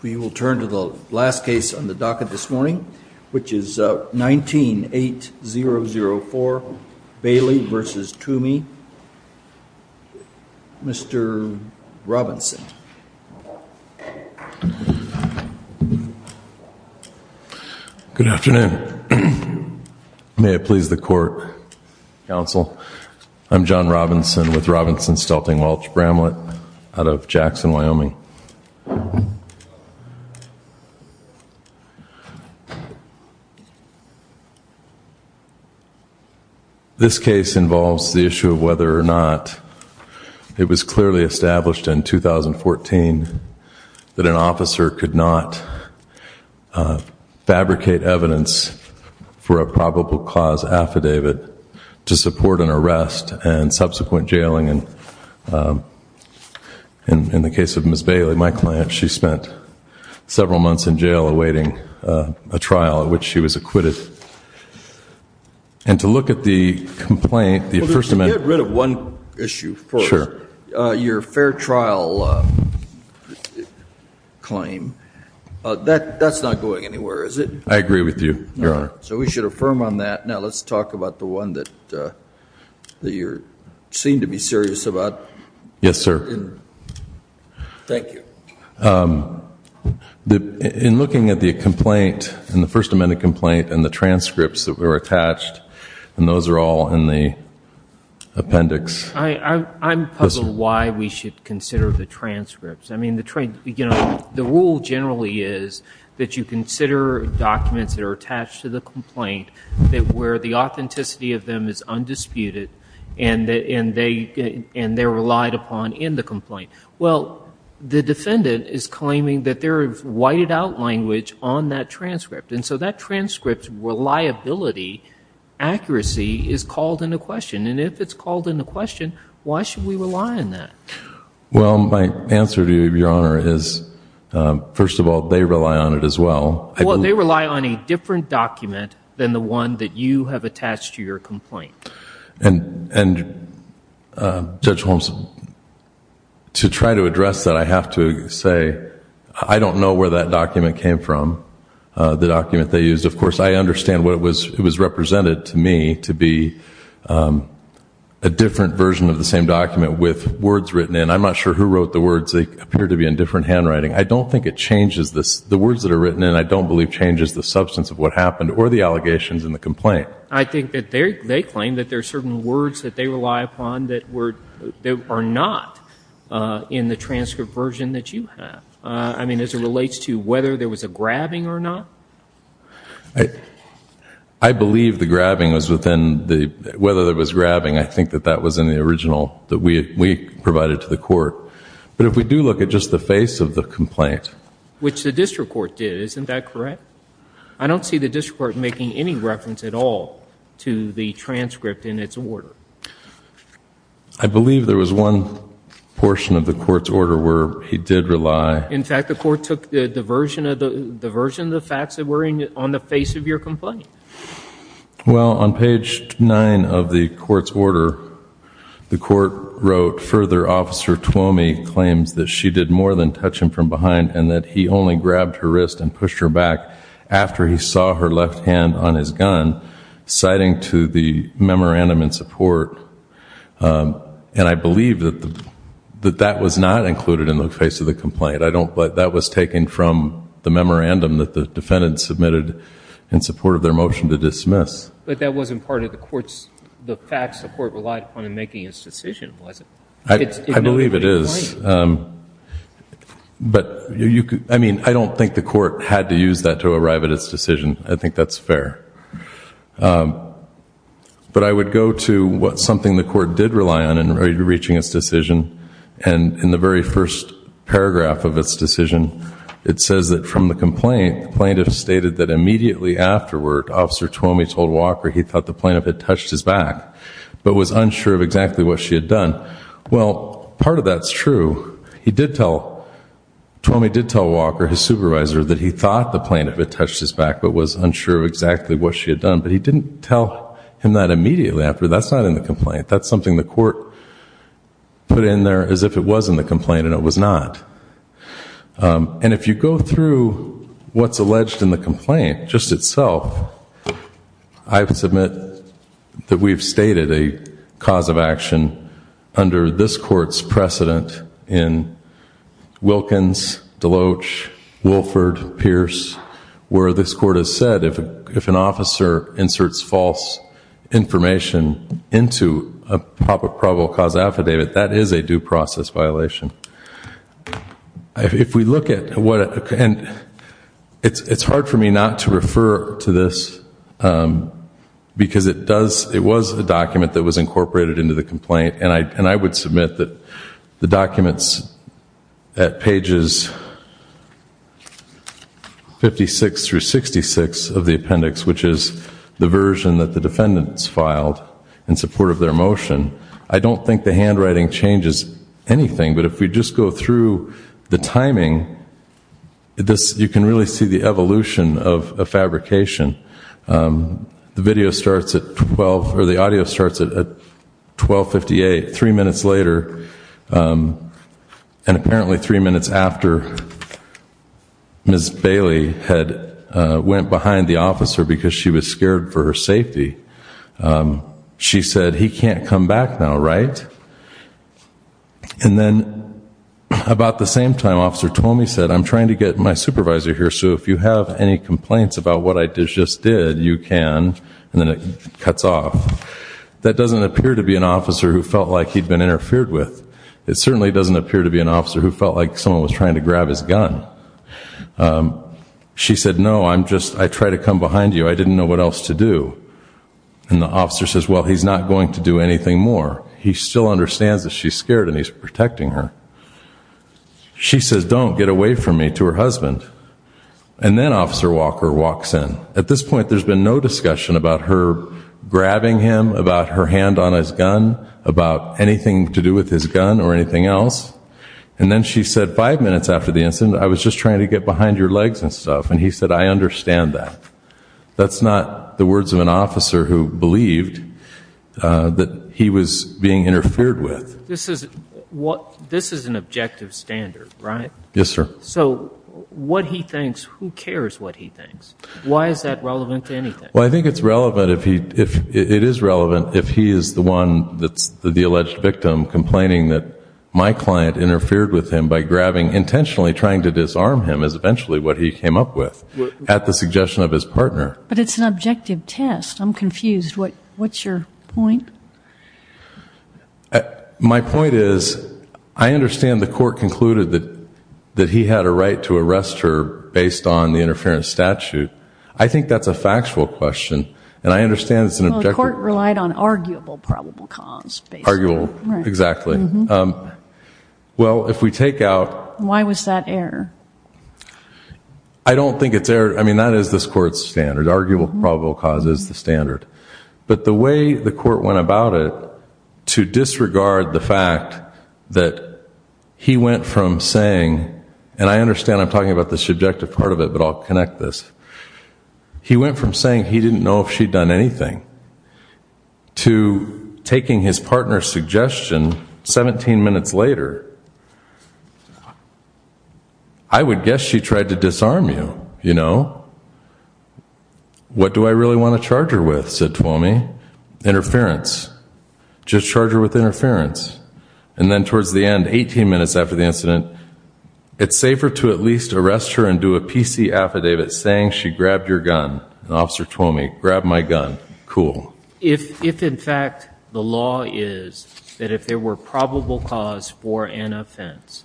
We will turn to the last case on the docket this morning, which is nineteen eight zero zero four Bailey versus Twomey. Mr. Robinson. Good afternoon. May it please the court counsel. I'm John Robinson with Robinson Stelting Welch Bramlett out of Jackson, Wyoming. This case involves the issue of whether or not it was clearly established in 2014 that an officer could not fabricate evidence for a probable cause affidavit to support an arrest and subsequent jailing. And in the case of Ms. Bailey, my client, she spent several months in jail awaiting a trial in which she was acquitted. And to look at the complaint, the First Amendment. Get rid of one issue first. Your fair trial claim. That's not going anywhere, is it? I agree with you, Your Honor. So we should affirm on that. Now let's talk about the one that you seem to be serious about. Yes, sir. Thank you. In looking at the complaint and the First Amendment complaint and the transcripts that were attached and those are all in the appendix. I'm puzzled why we should consider the transcripts. I mean, the rule generally is that you consider documents that are attached to the complaint that where the authenticity of them is undisputed and they're relied upon in the complaint. Well, the defendant is claiming that there is whited out language on that transcript. And so that transcript's reliability, accuracy is called into question. And if it's called into question, why should we rely on that? Well, my answer to you, Your Honor, is first of all they rely on it as well. Well, they rely on a different document than the one that you have attached to your complaint. Judge Holmes, to try to address that, I have to say I don't know where that document came from, the document they used. Of course, I understand what it was represented to me to be a different version of the same document with words written in. I'm not sure who wrote the words. They appear to be in different handwriting. I don't think it changes... the words that are written in I don't believe changes the substance of what happened or the allegations in the complaint. I think that they claim that there are certain words that they rely upon that are not in the transcript version that you have. I mean, as it relates to whether there was a grabbing or not? I believe the grabbing was within the... whether there was grabbing, I think that that was in the original that we provided to the Court. But if we do look at just the face of the complaint... Which the district court did, isn't that correct? I don't see the district court making any reference at all to the transcript in its order. I believe there was one portion of the court's order where he did rely... In fact, the court took the version of the facts that were on the face of your complaint. Well, on page 9 of the court's order, the court wrote, Further, Officer Twomey claims that she did more than touch him from behind and that he only grabbed her wrist and pushed her back after he saw her left hand on his gun, citing to the memorandum in support. And I believe that that was not included in the face of the complaint. I don't... But that was taken from the memorandum that the defendant submitted in support of their motion to dismiss. But that wasn't part of the court's... the facts the court relied upon in making its decision, was it? I believe it is. But you could... I mean, I don't think the court had to use that to arrive at its decision. I think that's fair. But I would go to what something the court did rely on in reaching its decision. And in the very first paragraph of its decision, it says that from the complaint, the plaintiff stated that immediately afterward, Officer Twomey told Walker he thought the plaintiff had touched his back, but was unsure of exactly what she had done. Well, part of that's true. He did tell... Twomey did tell Walker, his supervisor, that he thought the plaintiff had touched his back but was unsure of exactly what she had done. But he didn't tell him that immediately after. That's not in the complaint. That's something the court put in there as if it was in the complaint, and it was not. And if you go through what's alleged in the complaint just itself, I submit that we've stated a probable cause of action under this court's precedent in Wilkins, Deloach, Wilford, Pierce, where this court has said if an officer inserts false information into a probable cause affidavit, that is a due process violation. If we look at what... and it's hard for me not to refer to this because it does... it's a document that was incorporated into the complaint, and I would submit that the documents at pages 56 through 66 of the appendix, which is the version that the defendants filed in support of their motion, I don't think the handwriting changes anything, but if we just go through the timing, you can really see the evolution of fabrication. The video starts at 12... or the audio starts at 12.58, three minutes later, and apparently three minutes after Ms. Bailey had went behind the officer because she was scared for her safety. She said, he can't come back now, right? And then about the same time, Officer Tomey said, I'm trying to get my supervisor here, so if you have any complaints about what I just did, you can... and then it cuts off. That doesn't appear to be an officer who felt like he'd been interfered with. It certainly doesn't appear to be an officer who felt like someone was trying to grab his gun. She said, no, I'm just... I tried to come behind you. I didn't know what else to do. And the officer says, well, he's not going to do anything more. He still understands that she's scared and he's protecting her. She says, don't get away from me to her husband. And then Officer Walker walks in. At this point, there's been no discussion about her grabbing him, about her hand on his gun, about anything to do with his gun or anything else. And then she said five minutes after the incident, I was just trying to get behind your legs and stuff. And he said, I understand that. That's not the words of an officer who believed that he was being interfered with. This is an objective standard, right? Yes, sir. So what he thinks, who cares what he thinks? Why is that relevant to anything? Well, I think it's relevant if he... it is relevant if he is the one that's the alleged victim complaining that my client interfered with him by grabbing, intentionally trying to disarm him is eventually what he came up with at the suggestion of his partner. But it's an objective test. I'm confused. What's your point? My point is I understand the court concluded that he had a right to arrest her based on the interference statute. I think that's a factual question. And I understand it's an objective... Well, the court relied on arguable probable cause, basically. Arguable, exactly. Well, if we take out... Why was that error? I don't think it's error. I mean, that is this court's standard. Arguable probable cause is the standard. But the way the court went about it to disregard the fact that he went from saying... and I understand I'm talking about the subjective part of it but I'll connect this. He went from saying he didn't know if she'd done anything to taking his partner's suggestion 17 minutes later. I would guess she tried to disarm you, you know? What do I really want to charge her with, said Twomey? Interference. Just charge her with interference. And then towards the end, 18 minutes after the incident, it's safer to at least arrest her and do a PC affidavit saying she grabbed your gun. And Officer Twomey, grab my gun. Cool. If in fact the law is that if there were probable cause for an offense,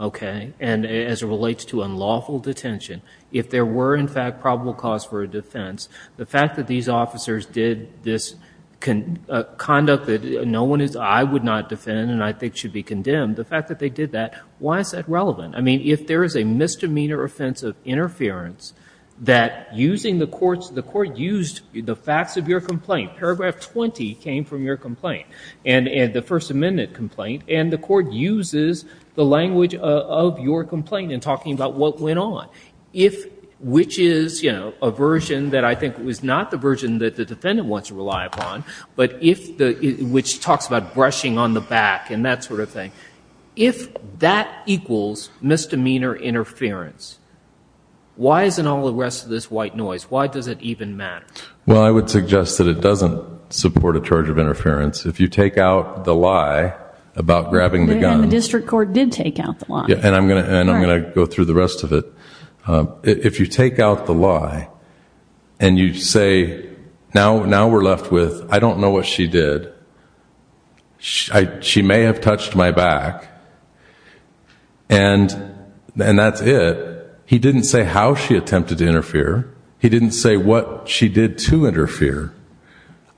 okay, and as it relates to unlawful detention, if there were in fact probable cause for a defense, the fact that these officers did this conduct that no one I would not defend and I think should be condemned, the fact that they did that, why is that relevant? I mean, if there is a misdemeanor offense of interference that using the court's... the court used the facts of your complaint. Paragraph 20 came from your complaint. And the First Amendment complaint. And the court uses the language of your complaint in talking about what went on. If... which is, you know, a version that I think was not the version that the defendant wants to rely upon, but if... which talks about brushing on the back and that sort of thing. If that equals misdemeanor interference, why isn't all the rest of this white noise? Why does it even matter? Well, I would suggest that it doesn't support a charge of interference. If you take out the lie about grabbing the gun... And the district court did take out the lie. And I'm going to go through the rest of it. If you take out the lie and you say, now we're left with, I don't know what she did. She may have touched my back. And that's it. He didn't say how she attempted to interfere. He didn't say what she did to interfere.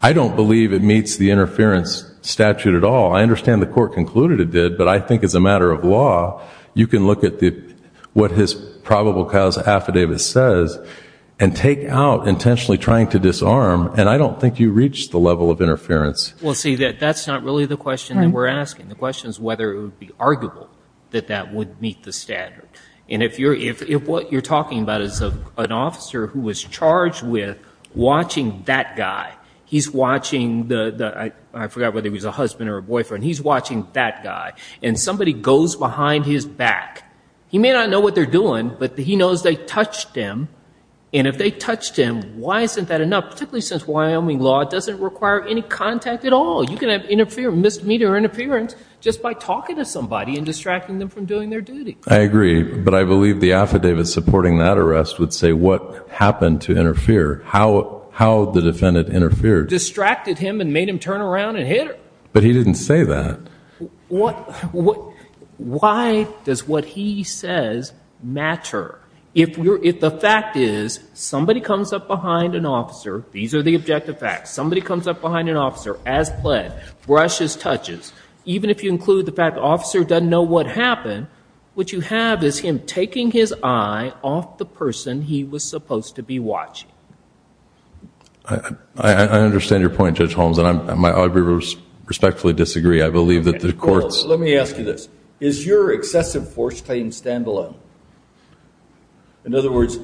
I don't believe it meets the interference statute at all. I understand the court concluded it did, but I think as a matter of fact, you take what his probable cause affidavit says and take out intentionally trying to disarm. And I don't think you reach the level of interference. Well, see, that's not really the question that we're asking. The question is whether it would be arguable that that would meet the standard. And if what you're talking about is an officer who was charged with watching that guy. He's watching the... I forgot whether he was a husband or a boyfriend. He's watching that guy. And somebody goes behind his back. He may not know what they're doing, but he knows they touched him. And if they touched him, why isn't that enough? Particularly since Wyoming law doesn't require any contact at all. You can have misdemeanor interference just by talking to somebody and distracting them from doing their duty. I agree. But I believe the affidavit supporting that arrest would say what happened to interfere. How the defendant interfered. Distracted him and made him turn around and hit her. But he didn't say that. Why does what he says matter? If the fact is somebody comes up behind an officer. These are the objective facts. Somebody comes up behind an officer as planned. Brushes, touches. Even if you include the fact the officer doesn't know what happened, what you have is him taking his eye off the person he was supposed to be watching. I understand your point, Judge Holmes. And I respectfully disagree. I believe that the courts... Let me ask you this. Is your excessive force claim stand-alone? In other words,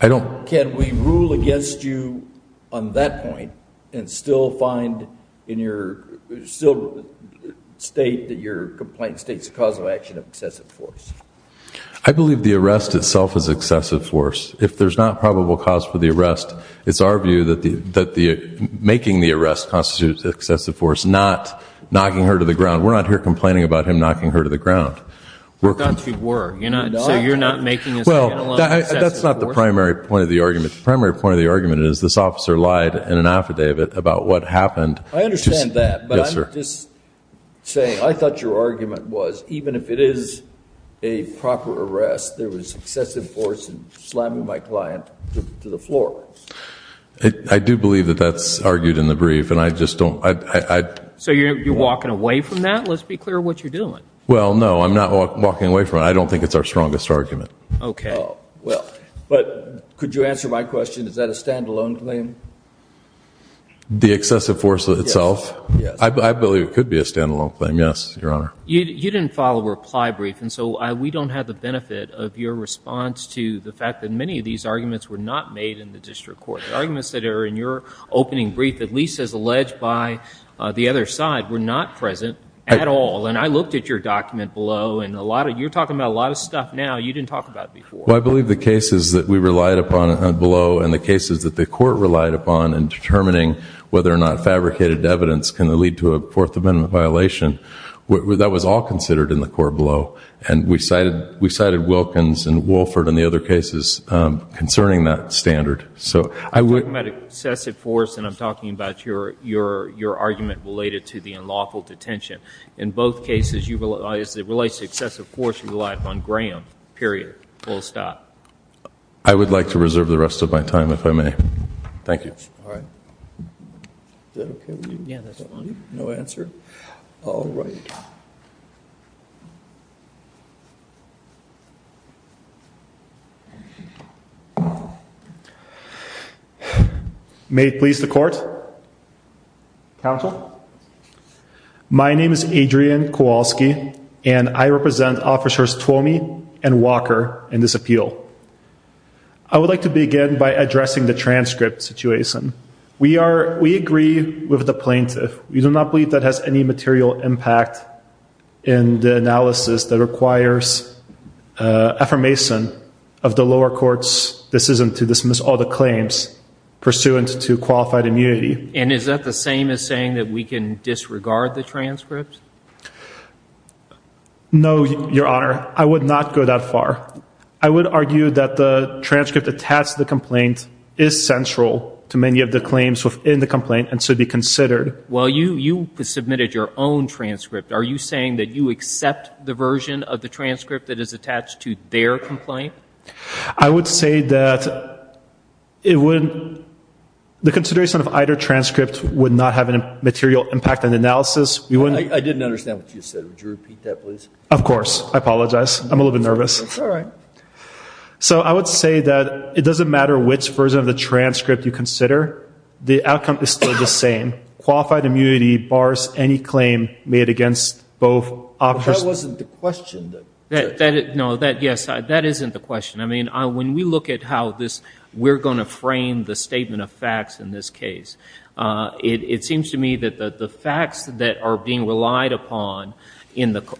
can we rule against you on that point and still find in your state that your complaint states the cause of action of excessive force? I believe the arrest itself is excessive force. If there's not probable cause for the arrest, it's our view that making the arrest constitutes excessive force, not knocking her to the ground. We're not here complaining about him knocking her to the ground. You're not making it stand-alone. That's not the primary point of the argument. The primary point of the argument is this officer lied in an affidavit about what happened. I understand that. But I'm just saying, I thought your argument was even if it is a proper arrest, there was excessive force in slamming my client to the floor. I do believe that that's argued in the brief, and I just don't... So you're walking away from that? Let's be clear what you're doing. Well, no, I'm not walking away from it. I don't think it's our strongest argument. Could you answer my question? Is that a stand-alone claim? The excessive force itself? I believe it could be a stand-alone claim, yes, Your Honor. You didn't file a reply brief, and so we don't have the benefit of your response to the fact that many of these arguments were not made in the district court. The arguments that are in your opening brief, at least as alleged by the other side, were not present at all. And I looked at your document below, and you're talking about a lot of stuff now you didn't talk about before. Well, I believe the cases that we relied upon below and the cases that the court relied upon in determining whether or not fabricated evidence can lead to a Fourth Amendment violation, that was all considered in the court below. And we cited Wilkins and Wolford and the other cases concerning that standard. I'm talking about excessive force and I'm talking about your argument related to the unlawful detention. In both cases, as it relates to excessive force, you relied upon Graham, period, full stop. I would like to reserve the rest of my time, if I may. Thank you. Is that okay with you? No answer? All right. May it please the court? Counsel? My name is Adrian Kowalski, and I represent Officers Twomey and Walker in this appeal. I would like to begin by addressing the transcript situation. We agree with the plaintiff. We do not believe that has any material impact in the analysis that requires affirmation of the lower court's decision to dismiss all the claims pursuant to qualified immunity. And is that the same as saying that we can disregard the transcript? No, Your Honor. I would not go that far. I would argue that the transcript attached to the complaint is central to many of the claims within the complaint and should be considered. Well, you submitted your own transcript. Are you saying that you accept the version of the transcript that is attached to their complaint? I would say that the consideration of either transcript would not have a material impact on the analysis. I didn't understand what you said. Would you repeat that, please? Of course. I apologize. I'm a little bit nervous. That's all right. So I would say that it doesn't matter which version of the transcript you consider. The outcome is still the same. Qualified immunity bars any claim made against both officers. But that wasn't the question. No. Yes. That isn't the question. I mean, when we look at how we're going to frame the statement of facts in this case, it seems to me that the facts that are being relied upon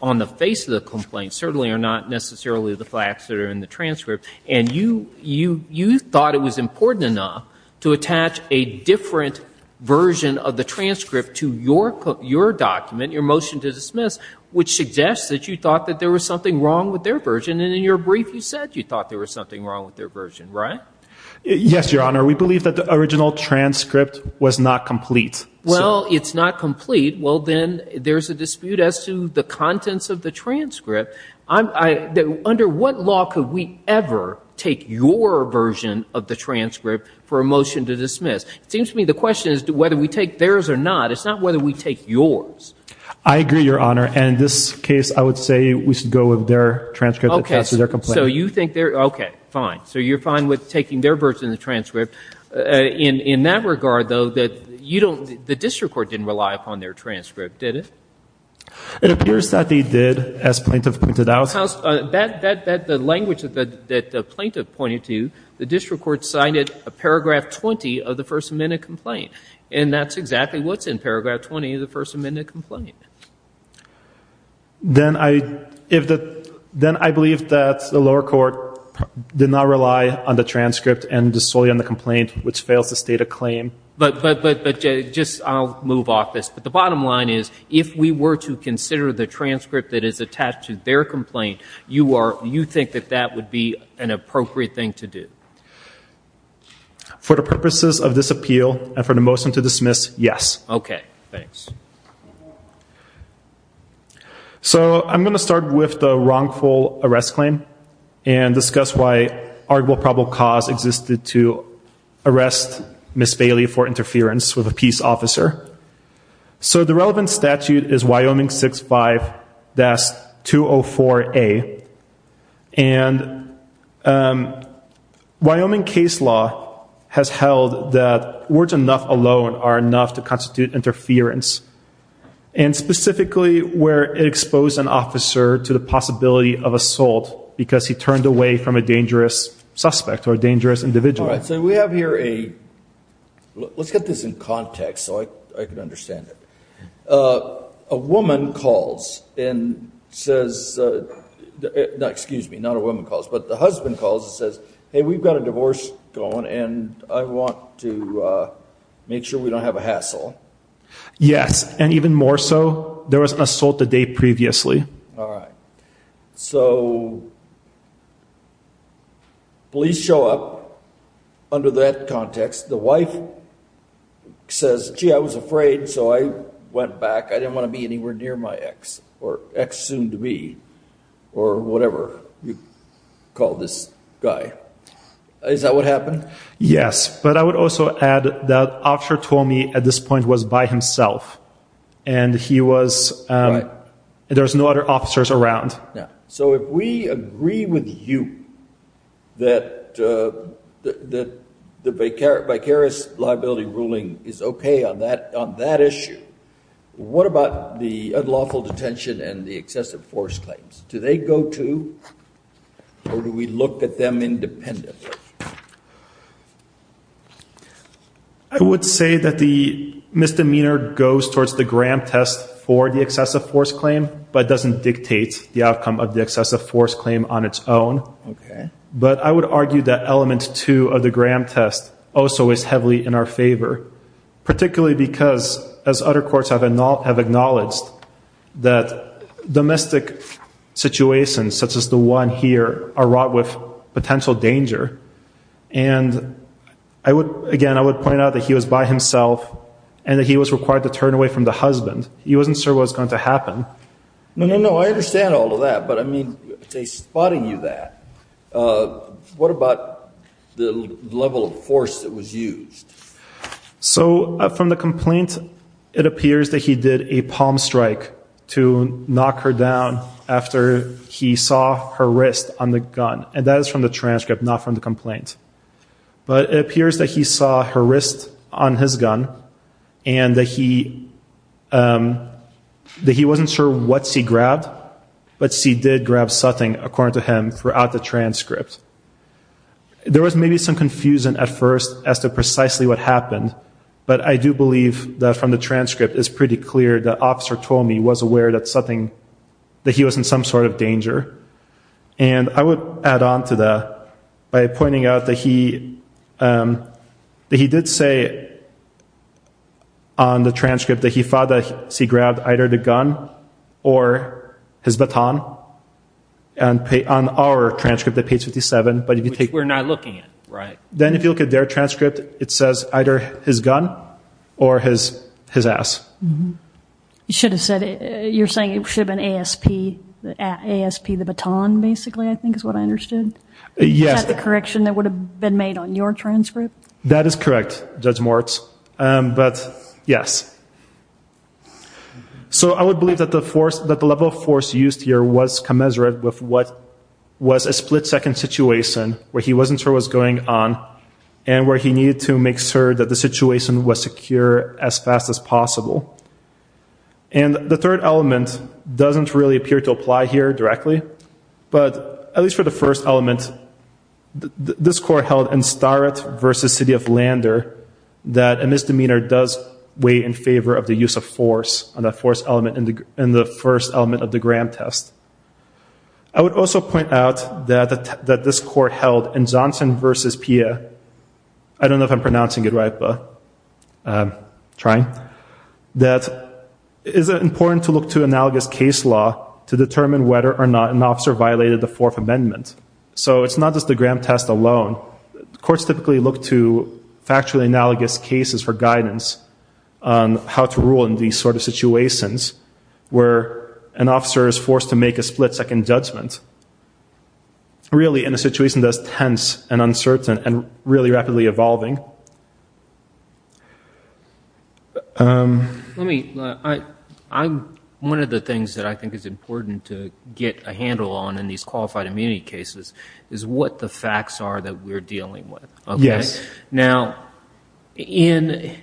on the face of the complaint certainly are not necessarily the facts that are in the transcript. And you thought it was important enough to attach a different version of the transcript to your document, your motion to dismiss, which suggests that you thought that there was something wrong with their version. And in your brief, you said you thought there was something wrong with their version, right? Yes, Your Honor. We believe that the original transcript was not complete. Well, it's not complete. Well, then there's a dispute as to the contents of the transcript. Under what law could we ever take your version of the transcript for a motion to dismiss? It seems to me the question is whether we take theirs or not. It's not whether we take yours. I agree, Your Honor. And in this case, I would say we should go with their transcript. Okay. So you think they're, okay, fine. So you're fine with taking their version of the transcript. In that regard, though, that you don't, the district court didn't rely upon their transcript, did it? It appears that they did, as plaintiff pointed out. The language that the plaintiff pointed to, the district court cited a paragraph 20 of the First Amendment complaint. And that's exactly what's in paragraph 20 of the First Amendment complaint. Then I believe that the lower court did not rely on the transcript and solely on the complaint, which fails to state a claim. But just, I'll move off this, but the bottom line is if we were to consider the transcript that is attached to their complaint, you think that that would be an appropriate thing to do? For the purposes of this appeal and for the motion to dismiss, yes. Okay. Thanks. So I'm going to start with the wrongful arrest claim and discuss why arguable probable cause existed to arrest Ms. Bailey for interference with a peace officer. So the relevant statute is Wyoming 65-204A. And Wyoming case law has held that words enough alone are enough to constitute interference. And specifically where it exposed an officer to the possibility of assault because he turned away from a dangerous suspect or a dangerous individual. Let's get this in context so I can understand it. A woman calls and says, excuse me, not a woman calls, but the husband calls and says, hey, we've got a divorce going and I want to make sure we don't have a hassle. Yes. And even more so there was an assault the day previously. All right. So police show up under that context. The wife says, gee, I was afraid. So I went back. I didn't want to be anywhere near my ex or ex soon to be or whatever you call this guy. Is that what happened? Yes. But I would also add that officer told me at this point was by himself and he was there was no other officers around. So if we agree with you that the vicarious liability ruling is okay on that issue. What about the unlawful detention and the excessive force claims? Do they go to or do we look at them independently? I would say that the misdemeanor goes towards the Graham test for the excessive force claim, but doesn't dictate the outcome of the excessive force claim on its own. But I would argue that element two of the Graham test also is heavily in our favor, particularly because as other courts have acknowledged that domestic situations such as the one here are wrought with potential danger. And again, I would point out that he was by himself and that he was required to turn away from the husband. He wasn't sure what was going to happen. No, no, no. I understand all of that. But I mean, they spotted you that. What about the level of force that was used? So from the complaint, it appears that he did a palm strike to knock her down after he saw her wrist on the gun. And that is from the transcript, not from the complaint. But it appears that he saw her wrist on his gun and that he wasn't sure what she grabbed, but she did grab something, according to him, throughout the transcript. There was maybe some confusion at first as to precisely what happened. But I do believe that from the transcript is pretty clear the officer told me was aware that something, that he was in some sort of danger. And I would add on to that by pointing out that he did say on the transcript that he thought that she grabbed either the gun or his baton. On our transcript at page 57. Which we're not looking at, right? Then if you look at their transcript, it says either his gun or his ass. You're saying it should have been ASP, the baton, basically, I think is what I understood. Is that the correction that would have been made on your transcript? That is correct, Judge Mortz. But, yes. So I would believe that the level of force used here was commensurate with what was a split-second situation where he wasn't sure what was going on and where he needed to make sure that the situation was secure as fast as possible. And the third element doesn't really appear to apply here directly, but at least for the first element, this court held in Starrett v. City of Lander that a misdemeanor does weigh in favor of the use of force in the first element of the Graham test. I would also point out that this court held in Johnson v. Pierre, I don't know if I'm pronouncing it right, but I'm trying, that it is important to look to analogous case law to determine whether or not an officer violated the Fourth Amendment. So it's not just the Graham test alone. Courts typically look to factually analogous cases for guidance on how to rule in these sort of situations where an officer is forced to make a split-second judgment really in a situation that's tense and uncertain and really rapidly evolving. One of the things that I think is important to get a handle on in these qualified immunity cases is what the facts are that we're dealing with. Now, in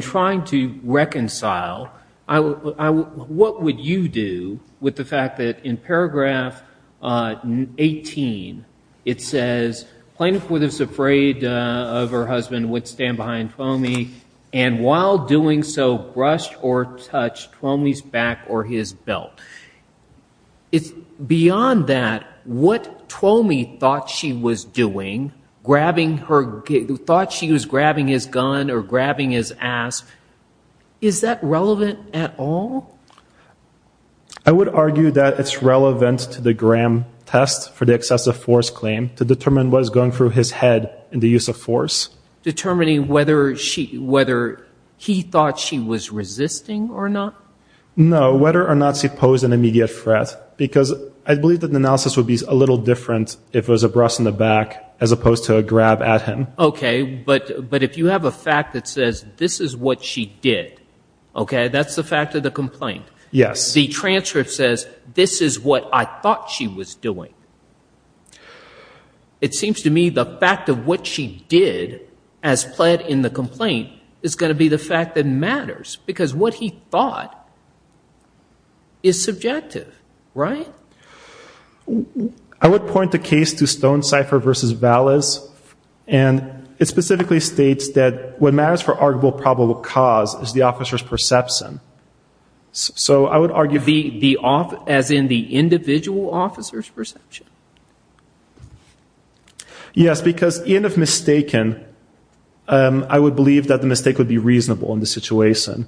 trying to reconcile, what would you do with the fact that in paragraph 18 it says, plaintiff was afraid of her husband would stand behind Twomey and while doing so brushed or touched Twomey's back or his belt. Beyond that, what Twomey thought she was doing, thought she was grabbing his gun or grabbing his ass, is that relevant at all? I would argue that it's relevant to the Graham test for the excessive force claim to determine what is going through his head in the use of force. Determining whether he thought she was resisting or not? No, whether or not she posed an immediate threat. Because I believe that the analysis would be a little different if it was a brush on the back as opposed to a grab at him. But if you have a fact that says, this is what she did that's the fact of the complaint. The transcript says this is what I thought she was doing. It seems to me the fact of what she did as pled in the complaint is going to be the fact that matters. Because what he thought is subjective, right? I would point the case to Stonecipher v. Vallis and it specifically states that what matters for arguable probable cause is the officer's perception. As in the individual officer's perception? Yes, because even if mistaken, I would believe that the mistake would be reasonable in the situation.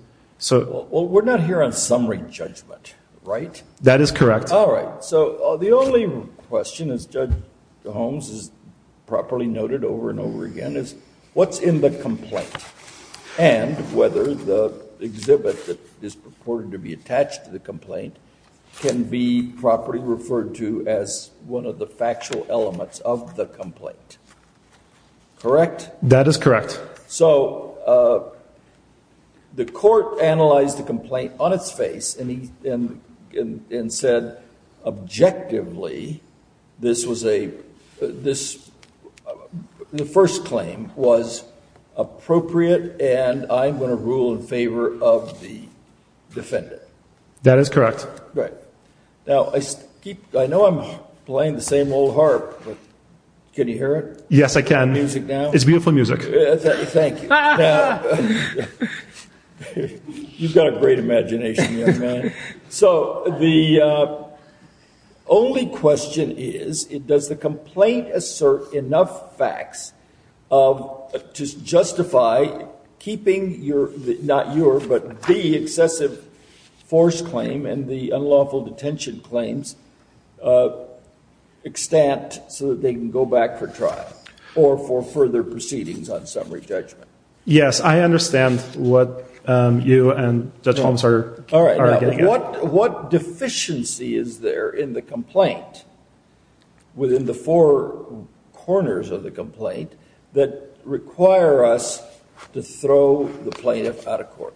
We're not here on summary judgment, right? That is correct. The only question, as Judge Holmes has properly noted over and over again, is what's in the complaint? And whether the exhibit that is purported to be attached to the complaint can be properly referred to as one of the factual elements of the complaint. Correct? That is correct. So the court analyzed the complaint and said objectively this was a first claim was appropriate and I'm going to rule in favor of the defendant. That is correct. Now I know I'm playing the same old harp but can you hear it? Yes, I can. It's beautiful music. Thank you. You've got a great imagination young man. So the only question is does the complaint assert enough facts to justify keeping your, not your, but the excessive force claim and the unlawful detention claims extant so that they can go back for trial or for further proceedings on summary judgment? Yes, I understand what you and Judge Holmes are getting at. What deficiency is there in the complaint within the four corners of the complaint that require us to throw the plaintiff out of court?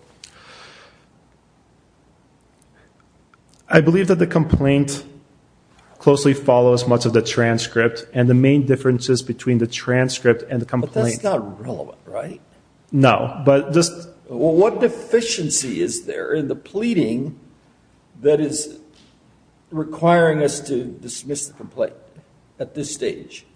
I believe that the complaint closely follows much of the transcript and the main differences between the transcript and the complaint. But that's not relevant, right? No. What deficiency is there in the pleading that is requiring us to dismiss the complaint at this stage?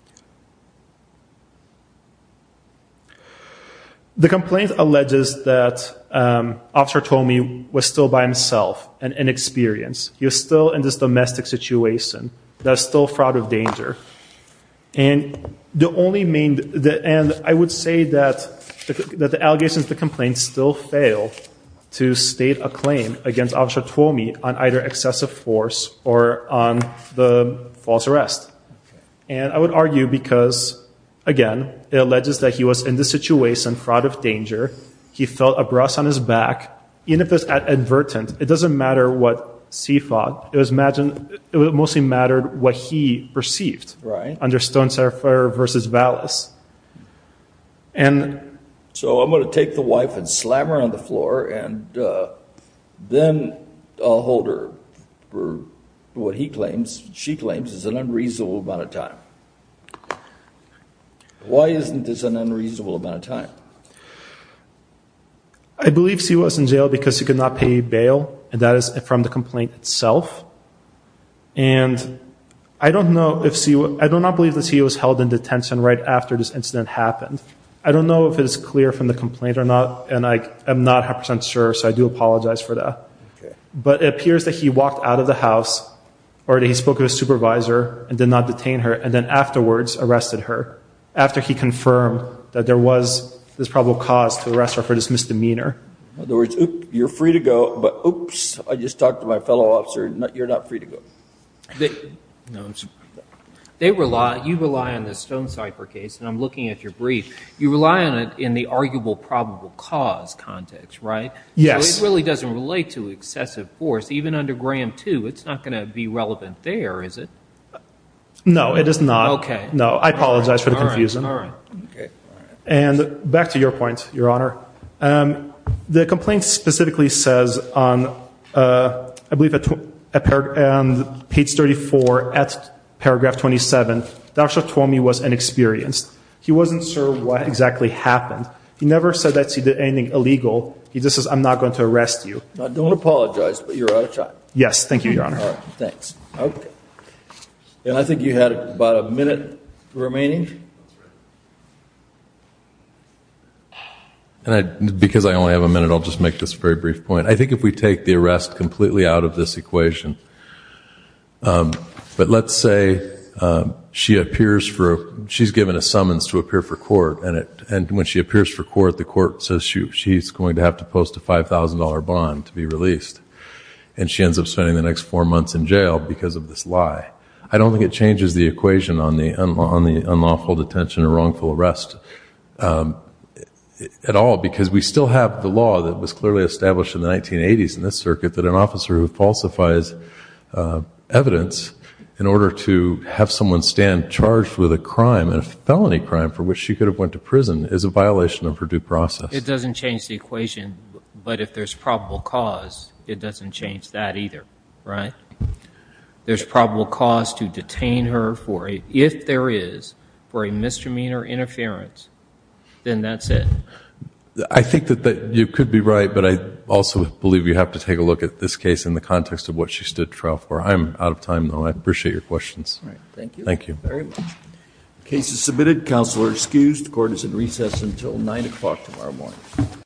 The complaint alleges that Officer Toomey was still by himself and inexperienced. And I would say that the allegations of the complaint still fail to state a claim against Officer Toomey on either excessive force or on the false arrest. And I would argue because, again, it alleges that he was in this situation fraught of danger. He felt a breast on his back. Even if it was advertent, it doesn't matter what he thought. It mostly mattered what he perceived. Right. Under Stone-Saraffer versus Vallis. So I'm going to take the wife and slam her on the floor, and then I'll hold her for what he claims, she claims, is an unreasonable amount of time. Why isn't this an unreasonable amount of time? I believe she was in jail because she could not pay bail, and that is from the complaint itself. And I do not believe that she was held in detention right after this incident happened. I don't know if it is clear from the complaint or not, and I am not a hundred percent sure, so I do apologize for that. But it appears that he walked out of the house or that he spoke to his supervisor and did not detain her, and then afterwards arrested her after he confirmed that there was this probable cause to arrest her for this misdemeanor. In other words, you're free to go, but oops, I just talked to my fellow officer. You're not free to go. You rely on the Stone-Saraffer case, and I'm looking at your brief. You rely on it in the arguable probable cause context, right? Yes. So it really doesn't relate to excessive force. Even under Graham too, it's not going to be relevant there, is it? No, it is not. No, I apologize for the confusion. And back to your point, Your Honor. The complaint specifically says on, I believe, page 34, at paragraph 27, Dr. Twomey was inexperienced. He wasn't sure what exactly happened. He never said that he did anything illegal. He just said, I'm not going to arrest you. I don't apologize, but you're out of time. Yes, thank you, Your Honor. And I think you had about a minute remaining. And I, because I only have a minute, I'll just make this very brief point. I think if we take the arrest completely out of this equation, but let's say she appears for, she's given a summons to appear for court, and when she appears for court, the court says she's going to have to post a $5,000 bond to be released. And she ends up spending the next four months in jail because of this lie. I don't think it changes the unlawful detention or wrongful arrest at all, because we still have the law that was clearly established in the 1980s in this circuit that an officer who falsifies evidence in order to have someone stand charged with a crime, a felony crime for which she could have went to prison, is a violation of her due process. It doesn't change the equation, but if there's probable cause, it doesn't change that either, right? There's probable cause to detain her for, if there is, for a misdemeanor interference, then that's it. I think that you could be right, but I also believe you have to take a look at this case in the context of what she stood trial for. I'm out of time, though. I appreciate your questions. Thank you. The case is submitted. Counsel are excused. The court is in recess until 9 o'clock tomorrow morning.